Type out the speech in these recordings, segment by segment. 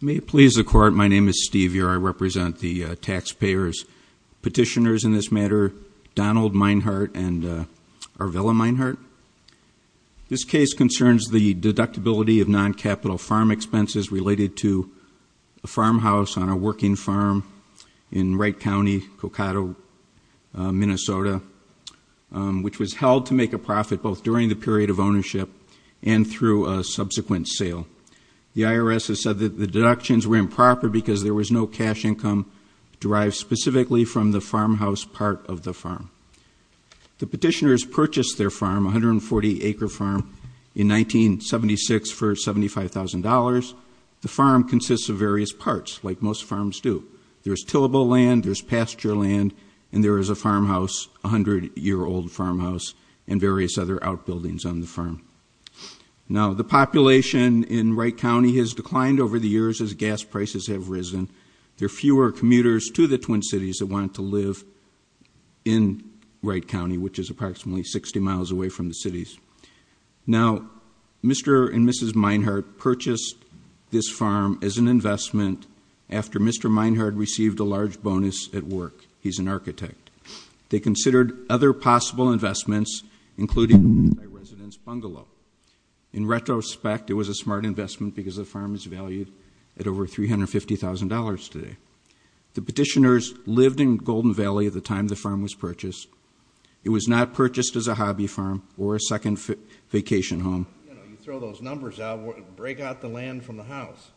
May it please the Court, my name is Steve Year, I represent the taxpayers, petitioners in this matter, Donald Meinhardt and Arvella Meinhardt. This case concerns the deductibility of non-capital farm expenses related to a farmhouse on a farm, which was held to make a profit both during the period of ownership and through a subsequent sale. The IRS has said that the deductions were improper because there was no cash income derived specifically from the farmhouse part of the farm. The petitioners purchased their farm, a 140 acre farm, in 1976 for $75,000. The farm consists of various parts, like most farms do. There's tillable land, there's pasture land, and there is a farmhouse, a 100 year old farmhouse, and various other outbuildings on the farm. Now the population in Wright County has declined over the years as gas prices have risen. There are fewer commuters to the Twin Cities that want to live in Wright County, which is approximately 60 miles away from the cities. Now, Mr. and Mrs. Meinhardt purchased this farm as an investment after Mr. Meinhardt received a large bonus at work. He's an architect. They considered other possible investments, including a residence bungalow. In retrospect, it was a smart investment because the farm is valued at over $350,000 today. The petitioners lived in Golden Valley at the time the farm was purchased. It was not purchased as a hobby farm or a second vacation home. You know, you throw those numbers out, it would break out the land from the house.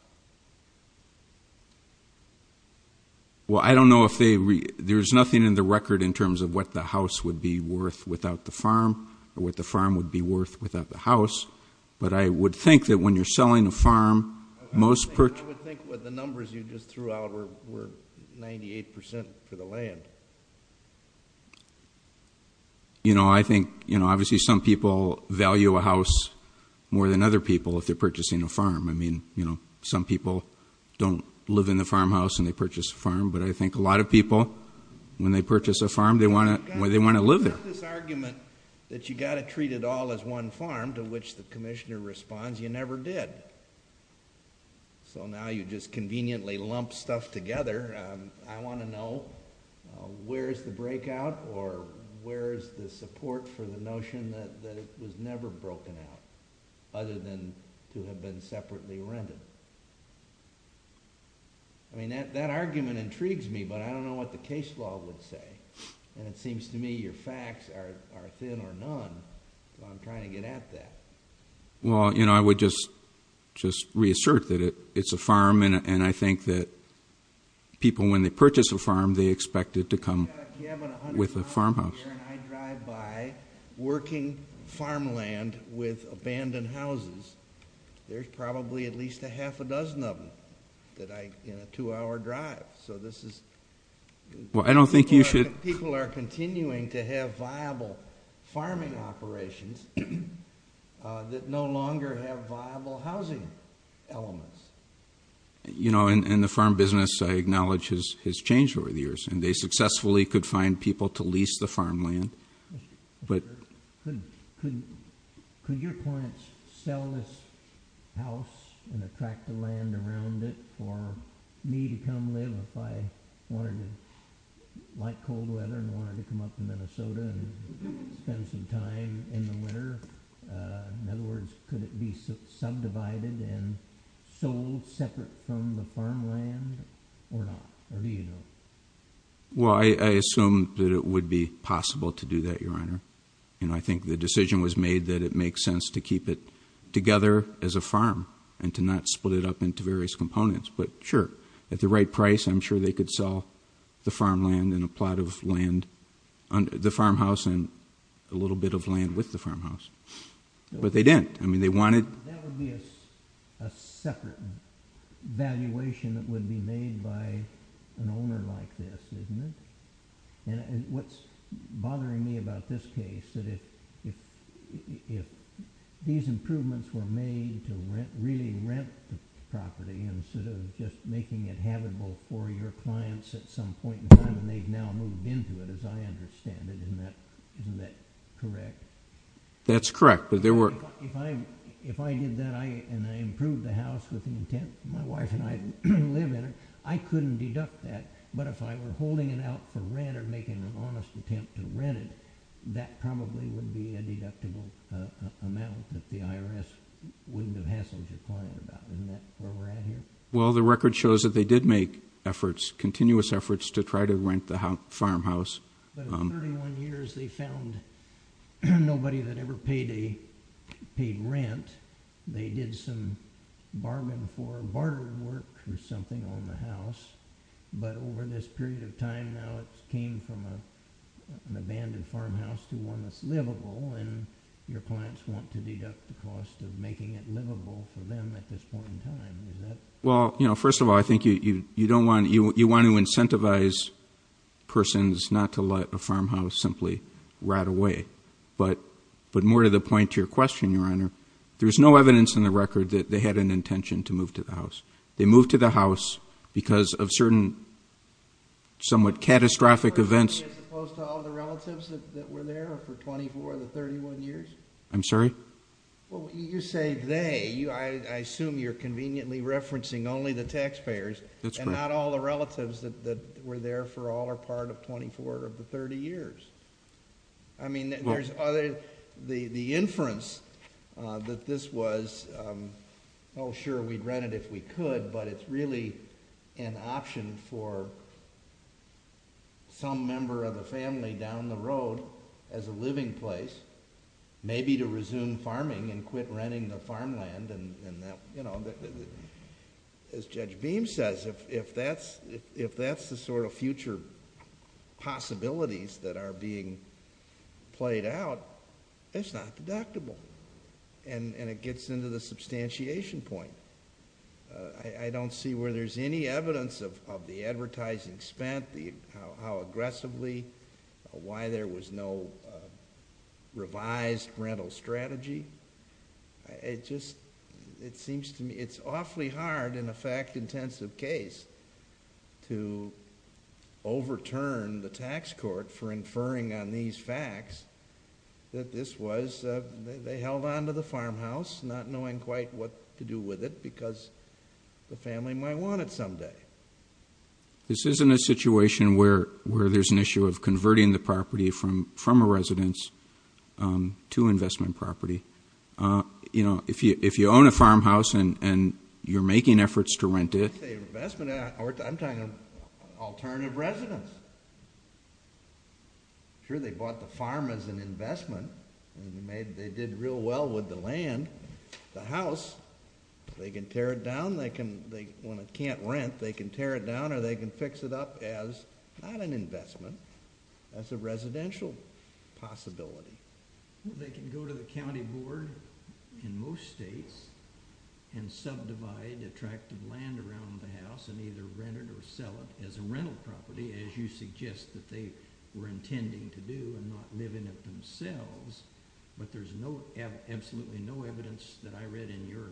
Well, I don't know if they, there's nothing in the record in terms of what the house would be worth without the farm, or what the farm would be worth without the house, but I would think that when you're selling a farm, most purchase... I would think what the numbers you just threw out were 98% for the land. You know, I think, you know, obviously some people value a house more than other people if they're purchasing a farm. I mean, you know, some people don't live in the farmhouse and they purchase a farm, but I think a lot of people, when they purchase a farm, they want to live there. You've got this argument that you've got to treat it all as one farm, to which the commissioner responds you never did. So now you just conveniently lump stuff together. I want to know, where is the breakout, or where is the support for the notion that it was never broken out, other than to have been separately rented? I mean, that argument intrigues me, but I don't know what the case law would say. And it seems to me your facts are thin or none, so I'm trying to get at that. Well, you know, I would just reassert that it's a farm, and I think that people, when they purchase a farm, they expect it to come with a farmhouse. I drive by working farmland with abandoned houses. There's probably at least a half a dozen of them that I, in a two-hour drive, so this is... Well, I don't think you should... That no longer have viable housing elements. You know, and the farm business, I acknowledge, has changed over the years, and they successfully could find people to lease the farmland, but... Could your clients sell this house and attract the land around it for me to come live if I wanted to, like cold weather, and wanted to come up to Minnesota and spend some time in the winter? In other words, could it be subdivided and sold separate from the farmland or not? Or do you know? Well, I assume that it would be possible to do that, Your Honor. You know, I think the decision was made that it makes sense to keep it together as a farm and to not split it up into various components. But sure, at the right price, I'm sure they could sell the farmland and a plot of land, the farmhouse, and a little bit of land with the farmhouse. But they didn't. I mean, they wanted... That would be a separate valuation that would be made by an owner like this, isn't it? And what's bothering me about this case, that if these improvements were made to really rent the property instead of just making it habitable for your clients at some point in the future, you wouldn't have to go into it, as I understand it. Isn't that correct? That's correct, but there were... If I did that and I improved the house with the intent that my wife and I would live in it, I couldn't deduct that. But if I were holding it out for rent or making an honest attempt to rent it, that probably would be a deductible amount that the IRS wouldn't have hassled your client about. Isn't that where we're at here? Well, the record shows that they did make efforts, continuous efforts, to try to rent the farmhouse. But in 31 years, they found nobody that ever paid rent. They did some bargain for barter work or something on the house. But over this period of time, now it's came from an abandoned farmhouse to one that's livable, and your clients want to deduct the cost of making it livable for them at this point in time. Is that... Well, first of all, I think you want to incentivize persons not to let a farmhouse simply rot away. But more to the point to your question, Your Honor, there's no evidence in the record that they had an intention to move to the house. They moved to the house because of certain somewhat catastrophic events. As opposed to all the relatives that were there for 24 of the 31 years? I'm sorry? Well, you say they. I assume you're conveniently referencing only the taxpayers and not all the relatives that were there for all or part of 24 of the 30 years. I mean, there's other... The inference that this was, oh, sure, we'd rent it if we could, but it's really an option for some member of the family down the road as a living place, maybe to resume farming and quit renting the farmland. As Judge Beam says, if that's the sort of future possibilities that are being played out, it's not deductible, and it gets into the substantiation point. I don't see where there's any evidence of the advertising spent, how aggressively, why there was no revised rental strategy. It just, it seems to me, it's awfully hard in a fact-intensive case to overturn the tax court for inferring on these facts that this was. They held on to the farmhouse, not knowing quite what to do with it because the family might want it someday. This isn't a situation where there's an issue of converting the property from a residence to investment property. If you own a farmhouse and you're making efforts to rent it... I'm talking alternative residence. Sure, they bought the farm as an investment. They did real well with the land. The house, they can tear it down. When it can't rent, they can tear it down or they can fix it up as not an investment, as a residential possibility. They can go to the county board in most states and subdivide attractive land around the house and either rent it or sell it as a rental property, as you suggest that they were intending to do and not live in it themselves. But there's absolutely no evidence that I read in your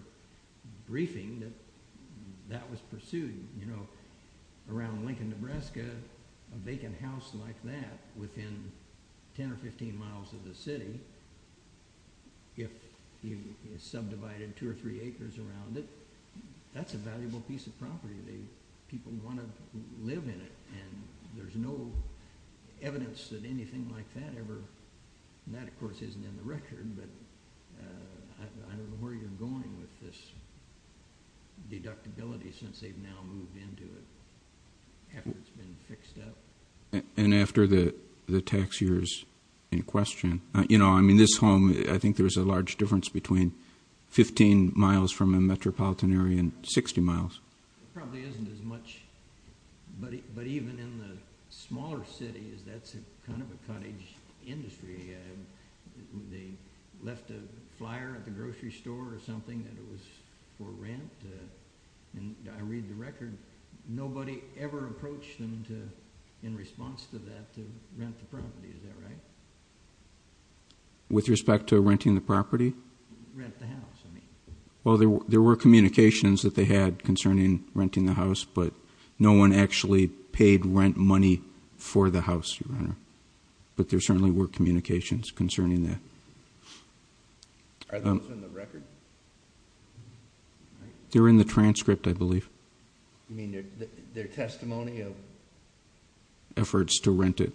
briefing that that was pursued. Around Lincoln, Nebraska, a vacant house like that within 10 or 15 miles of the city, if you subdivided two or three acres around it, that's a valuable piece of property. People want to live in it. And there's no evidence that anything like that ever... And that, of course, isn't in the record, but I don't know where you're going with this deductibility since they've now moved into it after it's been fixed up. And after the tax year is in question. You know, I mean, this home, I think there's a large difference between 15 miles from a metropolitan area and 60 miles. It probably isn't as much. But even in the smaller cities, that's kind of a cottage industry. They left a flyer at the grocery store or something that it was for rent. And I read the record. Nobody ever approached them in response to that to rent the property. Is that right? Rent the house, I mean. Well, there were communications that they had concerning renting the house. But no one actually paid rent money for the house, Your Honor. But there certainly were communications concerning that. Are those in the record? They're in the transcript, I believe. You mean their testimony of... Efforts to rent it.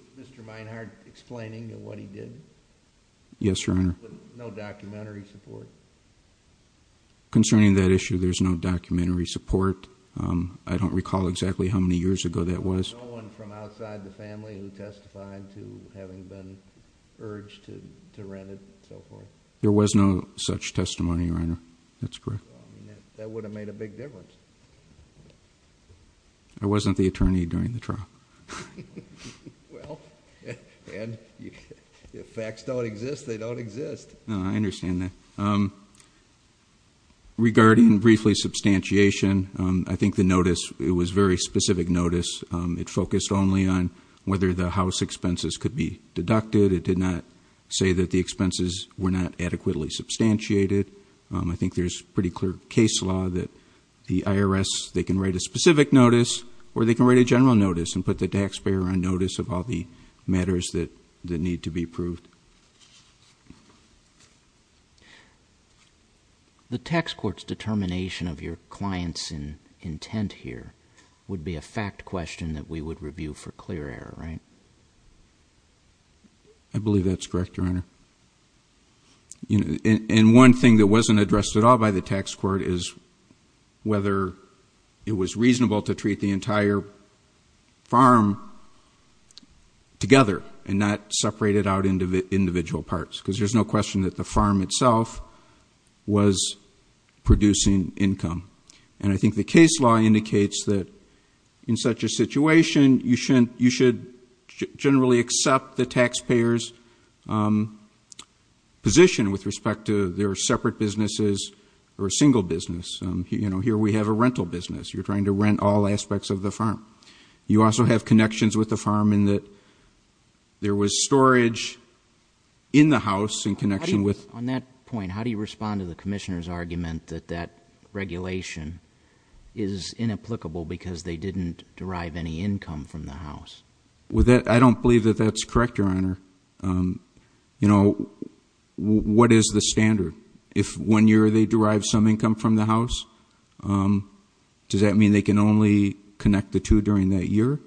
Yes, Your Honor. No documentary support? Concerning that issue, there's no documentary support. I don't recall exactly how many years ago that was. No one from outside the family who testified to having been urged to rent it? There was no such testimony, Your Honor. That's correct. That would have made a big difference. I wasn't the attorney during the trial. Well, and if facts don't exist, they don't exist. No, I understand that. Regarding briefly substantiation, I think the notice, it was a very specific notice. It focused only on whether the house expenses could be deducted. It did not say that the expenses were not adequately substantiated. I think there's pretty clear case law that the IRS, they can write a specific notice or they can write a general notice and put the taxpayer on notice of all the matters that need to be approved. The tax court's determination of your client's intent here would be a fact question that we would review for clear error, right? I believe that's correct, Your Honor. And one thing that wasn't addressed at all by the tax court is whether it was reasonable to treat the entire farm together and not separate it out into individual parts because there's no question that the farm itself was producing income. And I think the case law indicates that in such a situation, you should generally accept the taxpayer's position with respect to their separate businesses or single business. Here we have a rental business. You're trying to rent all aspects of the farm. You also have connections with the farm in that there was storage in the house in connection with... On that point, how do you respond to the Commissioner's argument that that regulation is inapplicable because they didn't derive any income from the house? I don't believe that that's correct, Your Honor. What is the standard? If one year they derive some income from the house, does that mean they can only connect the two during that year?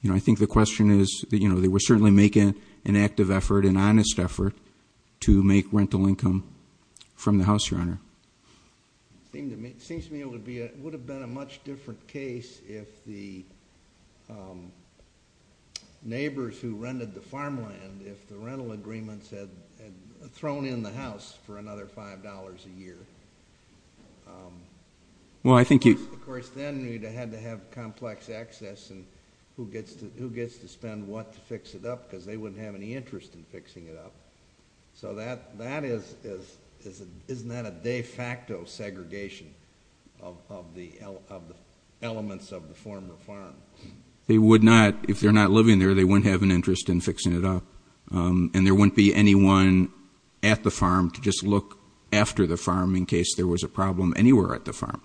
You know, I think the question is that, you know, they were certainly making an active effort, an honest effort to make rental income from the house, Your Honor. It seems to me it would have been a much different case if the neighbors who rented the farmland, if the rental agreements had thrown in the house for another $5 a year. Well, I think you... Of course, then you'd have to have complex access and who gets to spend what to fix it up because they wouldn't have any interest in fixing it up. So that is, isn't that a de facto segregation of the elements of the former farm? They would not. If they're not living there, they wouldn't have an interest in fixing it up and there wouldn't be anyone at the farm to just look after the farm in case there was a problem anywhere at the farm.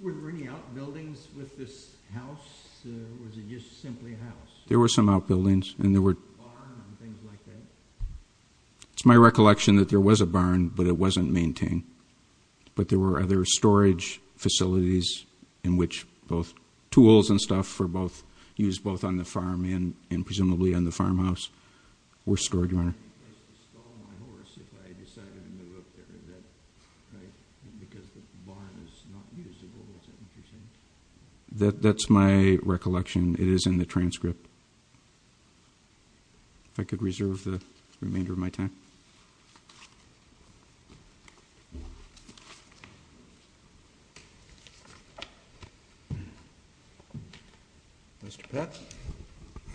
Were there any outbuildings with this house? Or was it just simply a house? There were some outbuildings and there were... A barn and things like that? It's my recollection that there was a barn but it wasn't maintained. But there were other storage facilities in which both tools and stuff were used both on the farm and presumably on the farmhouse were stored, Your Honor. I think I used to stall my horse if I decided to move up there. Right? Because the barn is not usable, is that what you're saying? That's my recollection. It is in the transcript. If I could reserve the remainder of my time. Mr. Pett.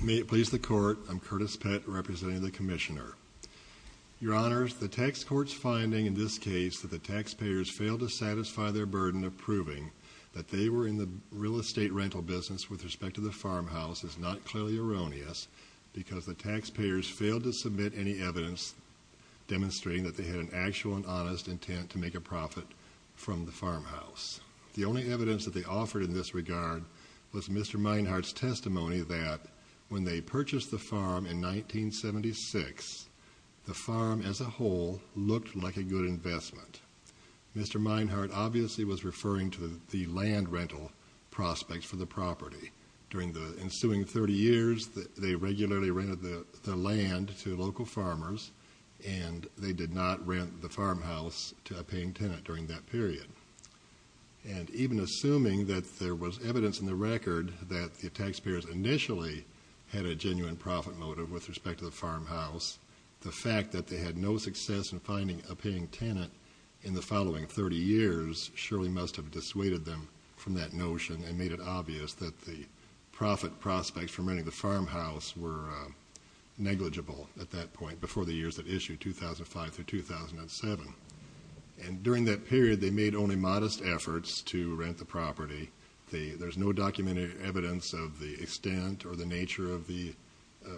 May it please the Court, I'm Curtis Pett, representing the Commissioner. Your Honors, the Tax Court's finding in this case that the taxpayers failed to satisfy their burden of proving that they were in the real estate rental business with respect to the farmhouse is not clearly erroneous because the taxpayers failed to submit any evidence demonstrating that they had an actual and honest intent to make a profit from the farmhouse. The only evidence that they offered in this regard was Mr. Meinhardt's testimony that when they purchased the farm in 1976, the farm as a whole looked like a good investment. Mr. Meinhardt obviously was referring to the land rental prospects for the property. During the ensuing 30 years, they regularly rented the land to local farmers and they did not rent the farmhouse to a paying tenant during that period. And even assuming that there was evidence in the record that the taxpayers initially had a genuine profit motive with respect to the farmhouse, the fact that they had no success in finding a paying tenant in the following 30 years surely must have dissuaded them from that notion and made it obvious that the profit prospects for renting the farmhouse were negligible at that point before the years that issued 2005 through 2007. And during that period they made only modest efforts to rent the property. There's no documented evidence of the extent or the nature of the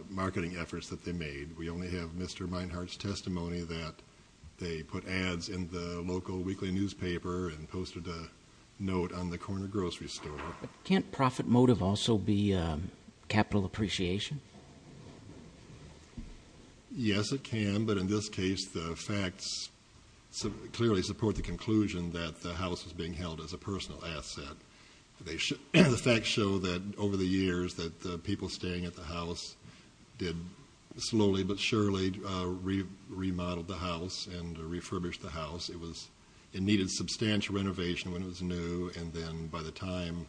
marketing efforts that they made. We only have Mr. Meinhardt's testimony that they put ads in the local weekly newspaper and posted a note on the corner grocery store. Can't profit motive also be capital appreciation? Yes, it can. But in this case the facts clearly support the conclusion that the house was being held as a personal asset. The facts show that over the years that the people staying at the house did slowly but surely remodel the house and refurbish the house. It needed substantial renovation when it was new and then by the time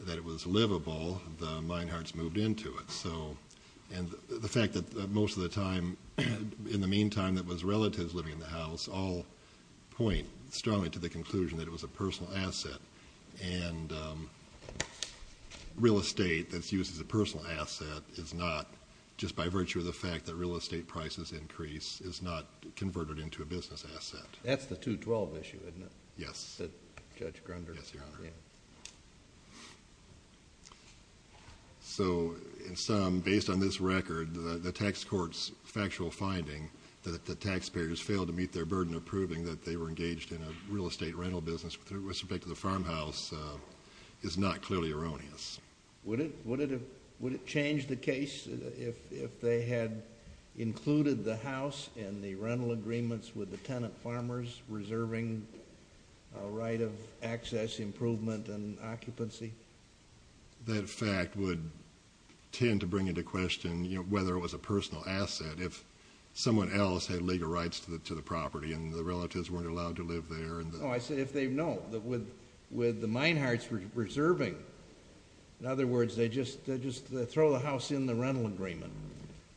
that it was livable the Meinhardts moved into it. And the fact that most of the time in the meantime it was relatives living in the house all point strongly to the conclusion that it was a personal asset and real estate that's used as a personal asset is not just by virtue of the fact that real estate prices increase is not converted into a business asset. That's the 212 issue isn't it? Yes. So in some based on this record the tax court's factual finding that the taxpayers failed to meet their burden of proving that they were engaged in a real estate rental business with respect to the farmhouse is not clearly erroneous. Would it change the case if they had included the house in the rental agreements with the tenant farmers reserving a right of access improvement and occupancy? That fact would tend to bring into question whether it was a personal asset if someone else had legal rights to the property and the relatives weren't allowed to live there. No. With the Meinhardts reserving in other words they just throw the house in the rental agreement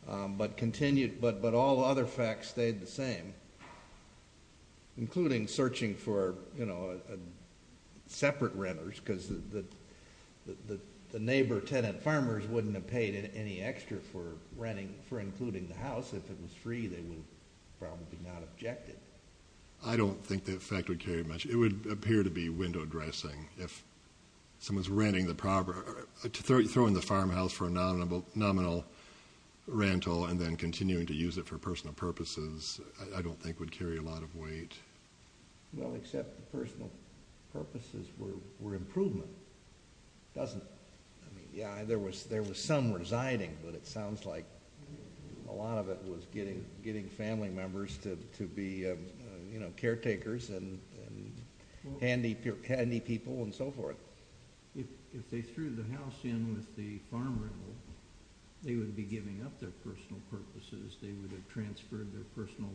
but all other facts stayed the same including searching for separate renters because the neighbor tenant farmers wouldn't have paid any extra for renting for including the house if it was free they would probably not object it. I don't think that fact would carry much. It would appear to be window dressing if someone's renting the property, throwing the farmhouse for a nominal rental and then continuing to use it for personal purposes I don't think would carry a lot of weight. Well except the personal purposes were improvement. It doesn't. Yeah there was some residing but it sounds like a lot of it was getting family members to be caretakers and handy people and so forth. If they threw the house in with the farm rental they would be giving up their personal purposes they would have transferred their personal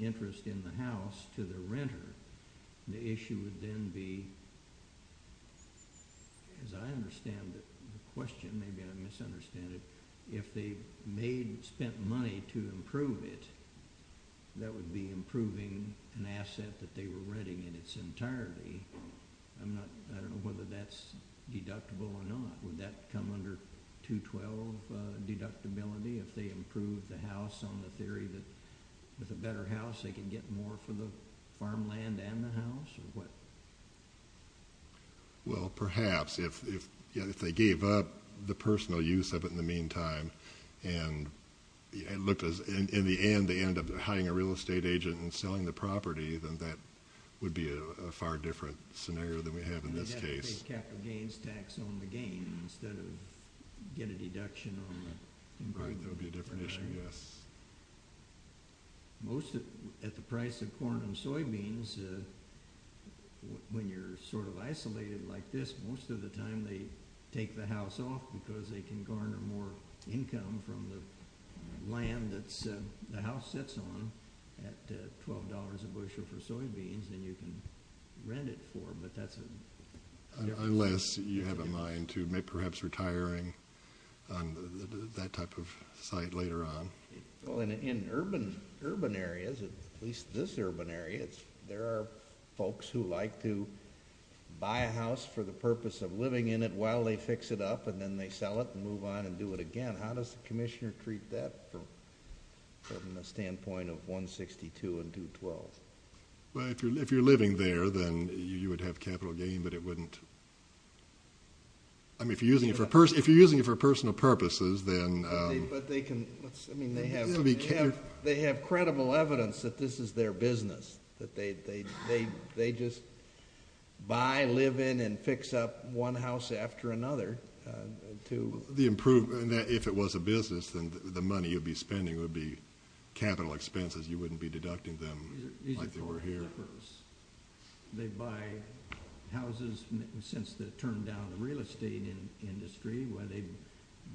interest in the house to the FNV as I understand the question, maybe I misunderstand it if they spent money to improve it that would be improving an asset that they were renting entirely I don't know whether that's deductible or not. Would that come under 212 deductibility if they improved the house on the theory that with a better house they could get more for the Well perhaps if they gave up the personal use of it in the meantime and in the end they end up hiding a real estate agent and selling the property then that would be a far different scenario than we have in this case They'd have to pay capital gains tax on the gain instead of get a deduction on the improvement That would be a different issue, yes. Most of it at the price of corn and soybeans when you're sort of isolated like this most of the time they take the house off because they can garner more income from the land that the house sits on at $12 a bushel for soybeans than you can rent it for Unless you have a mind to perhaps retiring on that type of site later on In urban areas at least this urban area there are folks who like to buy a house for the purpose of living in it while they fix it up and then they sell it and move on and do it again How does the commissioner treat that from the standpoint of 162 and 212 Well if you're living there then you would have capital gain but it wouldn't I mean if you're using it for personal purposes then But they can I mean they have credible evidence that this is their business that they just buy, live in and fix up one house after another If it was a business then the money you'd be spending would be capital expenses, you wouldn't be deducting them like they were here They buy houses since they turned down the real estate industry where they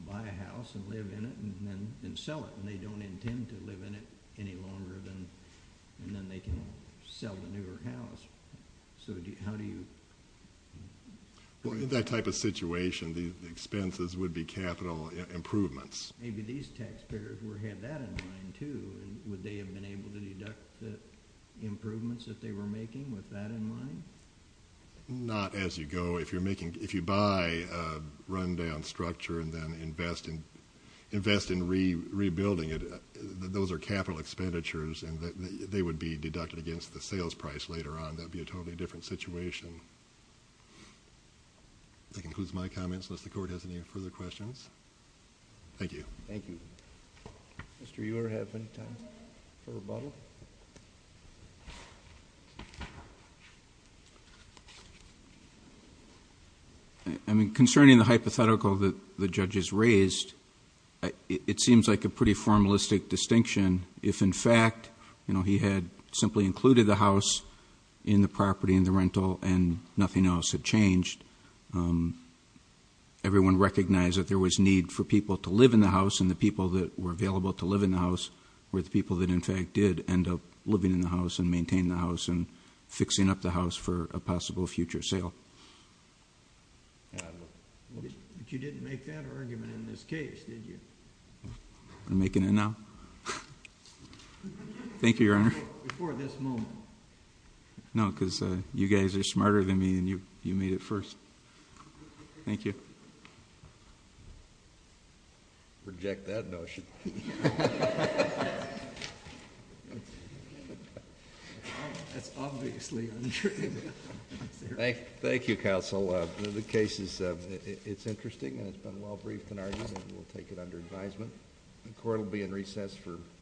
buy a house and live in it and then sell it and they don't intend to live in it any longer and then they can sell the newer house So how do you Well in that type of situation the expenses would be capital improvements Maybe these taxpayers would have that in mind too Would they have been able to deduct the improvements that they were making with that in mind Not as you go, if you're making If you buy a rundown structure and then invest in rebuilding it those are capital expenditures and they would be deducted against the sales price later on, that would be a totally different situation That concludes my comments unless the court has any further questions Thank you Mr. Ewer have any time for rebuttal I mean concerning the hypothetical that the judges raised it seems like a pretty formalistic distinction if in fact you know he had simply included the house in the property in the rental and nothing else had changed Everyone recognized that there was need for people to live in the house and the people that were available to live in the house were the people that in fact did end up living in the house and maintain the house and fixing up the house for a possible future sale You didn't make that argument in this case did you? I'm making it now Thank you your honor Before this moment No because you guys are smarter than me and you made it first Thank you Reject that notion That's obviously untrue Thank you counsel The case is interesting and it's been well briefed and we'll take it under advisement The court will be in recess for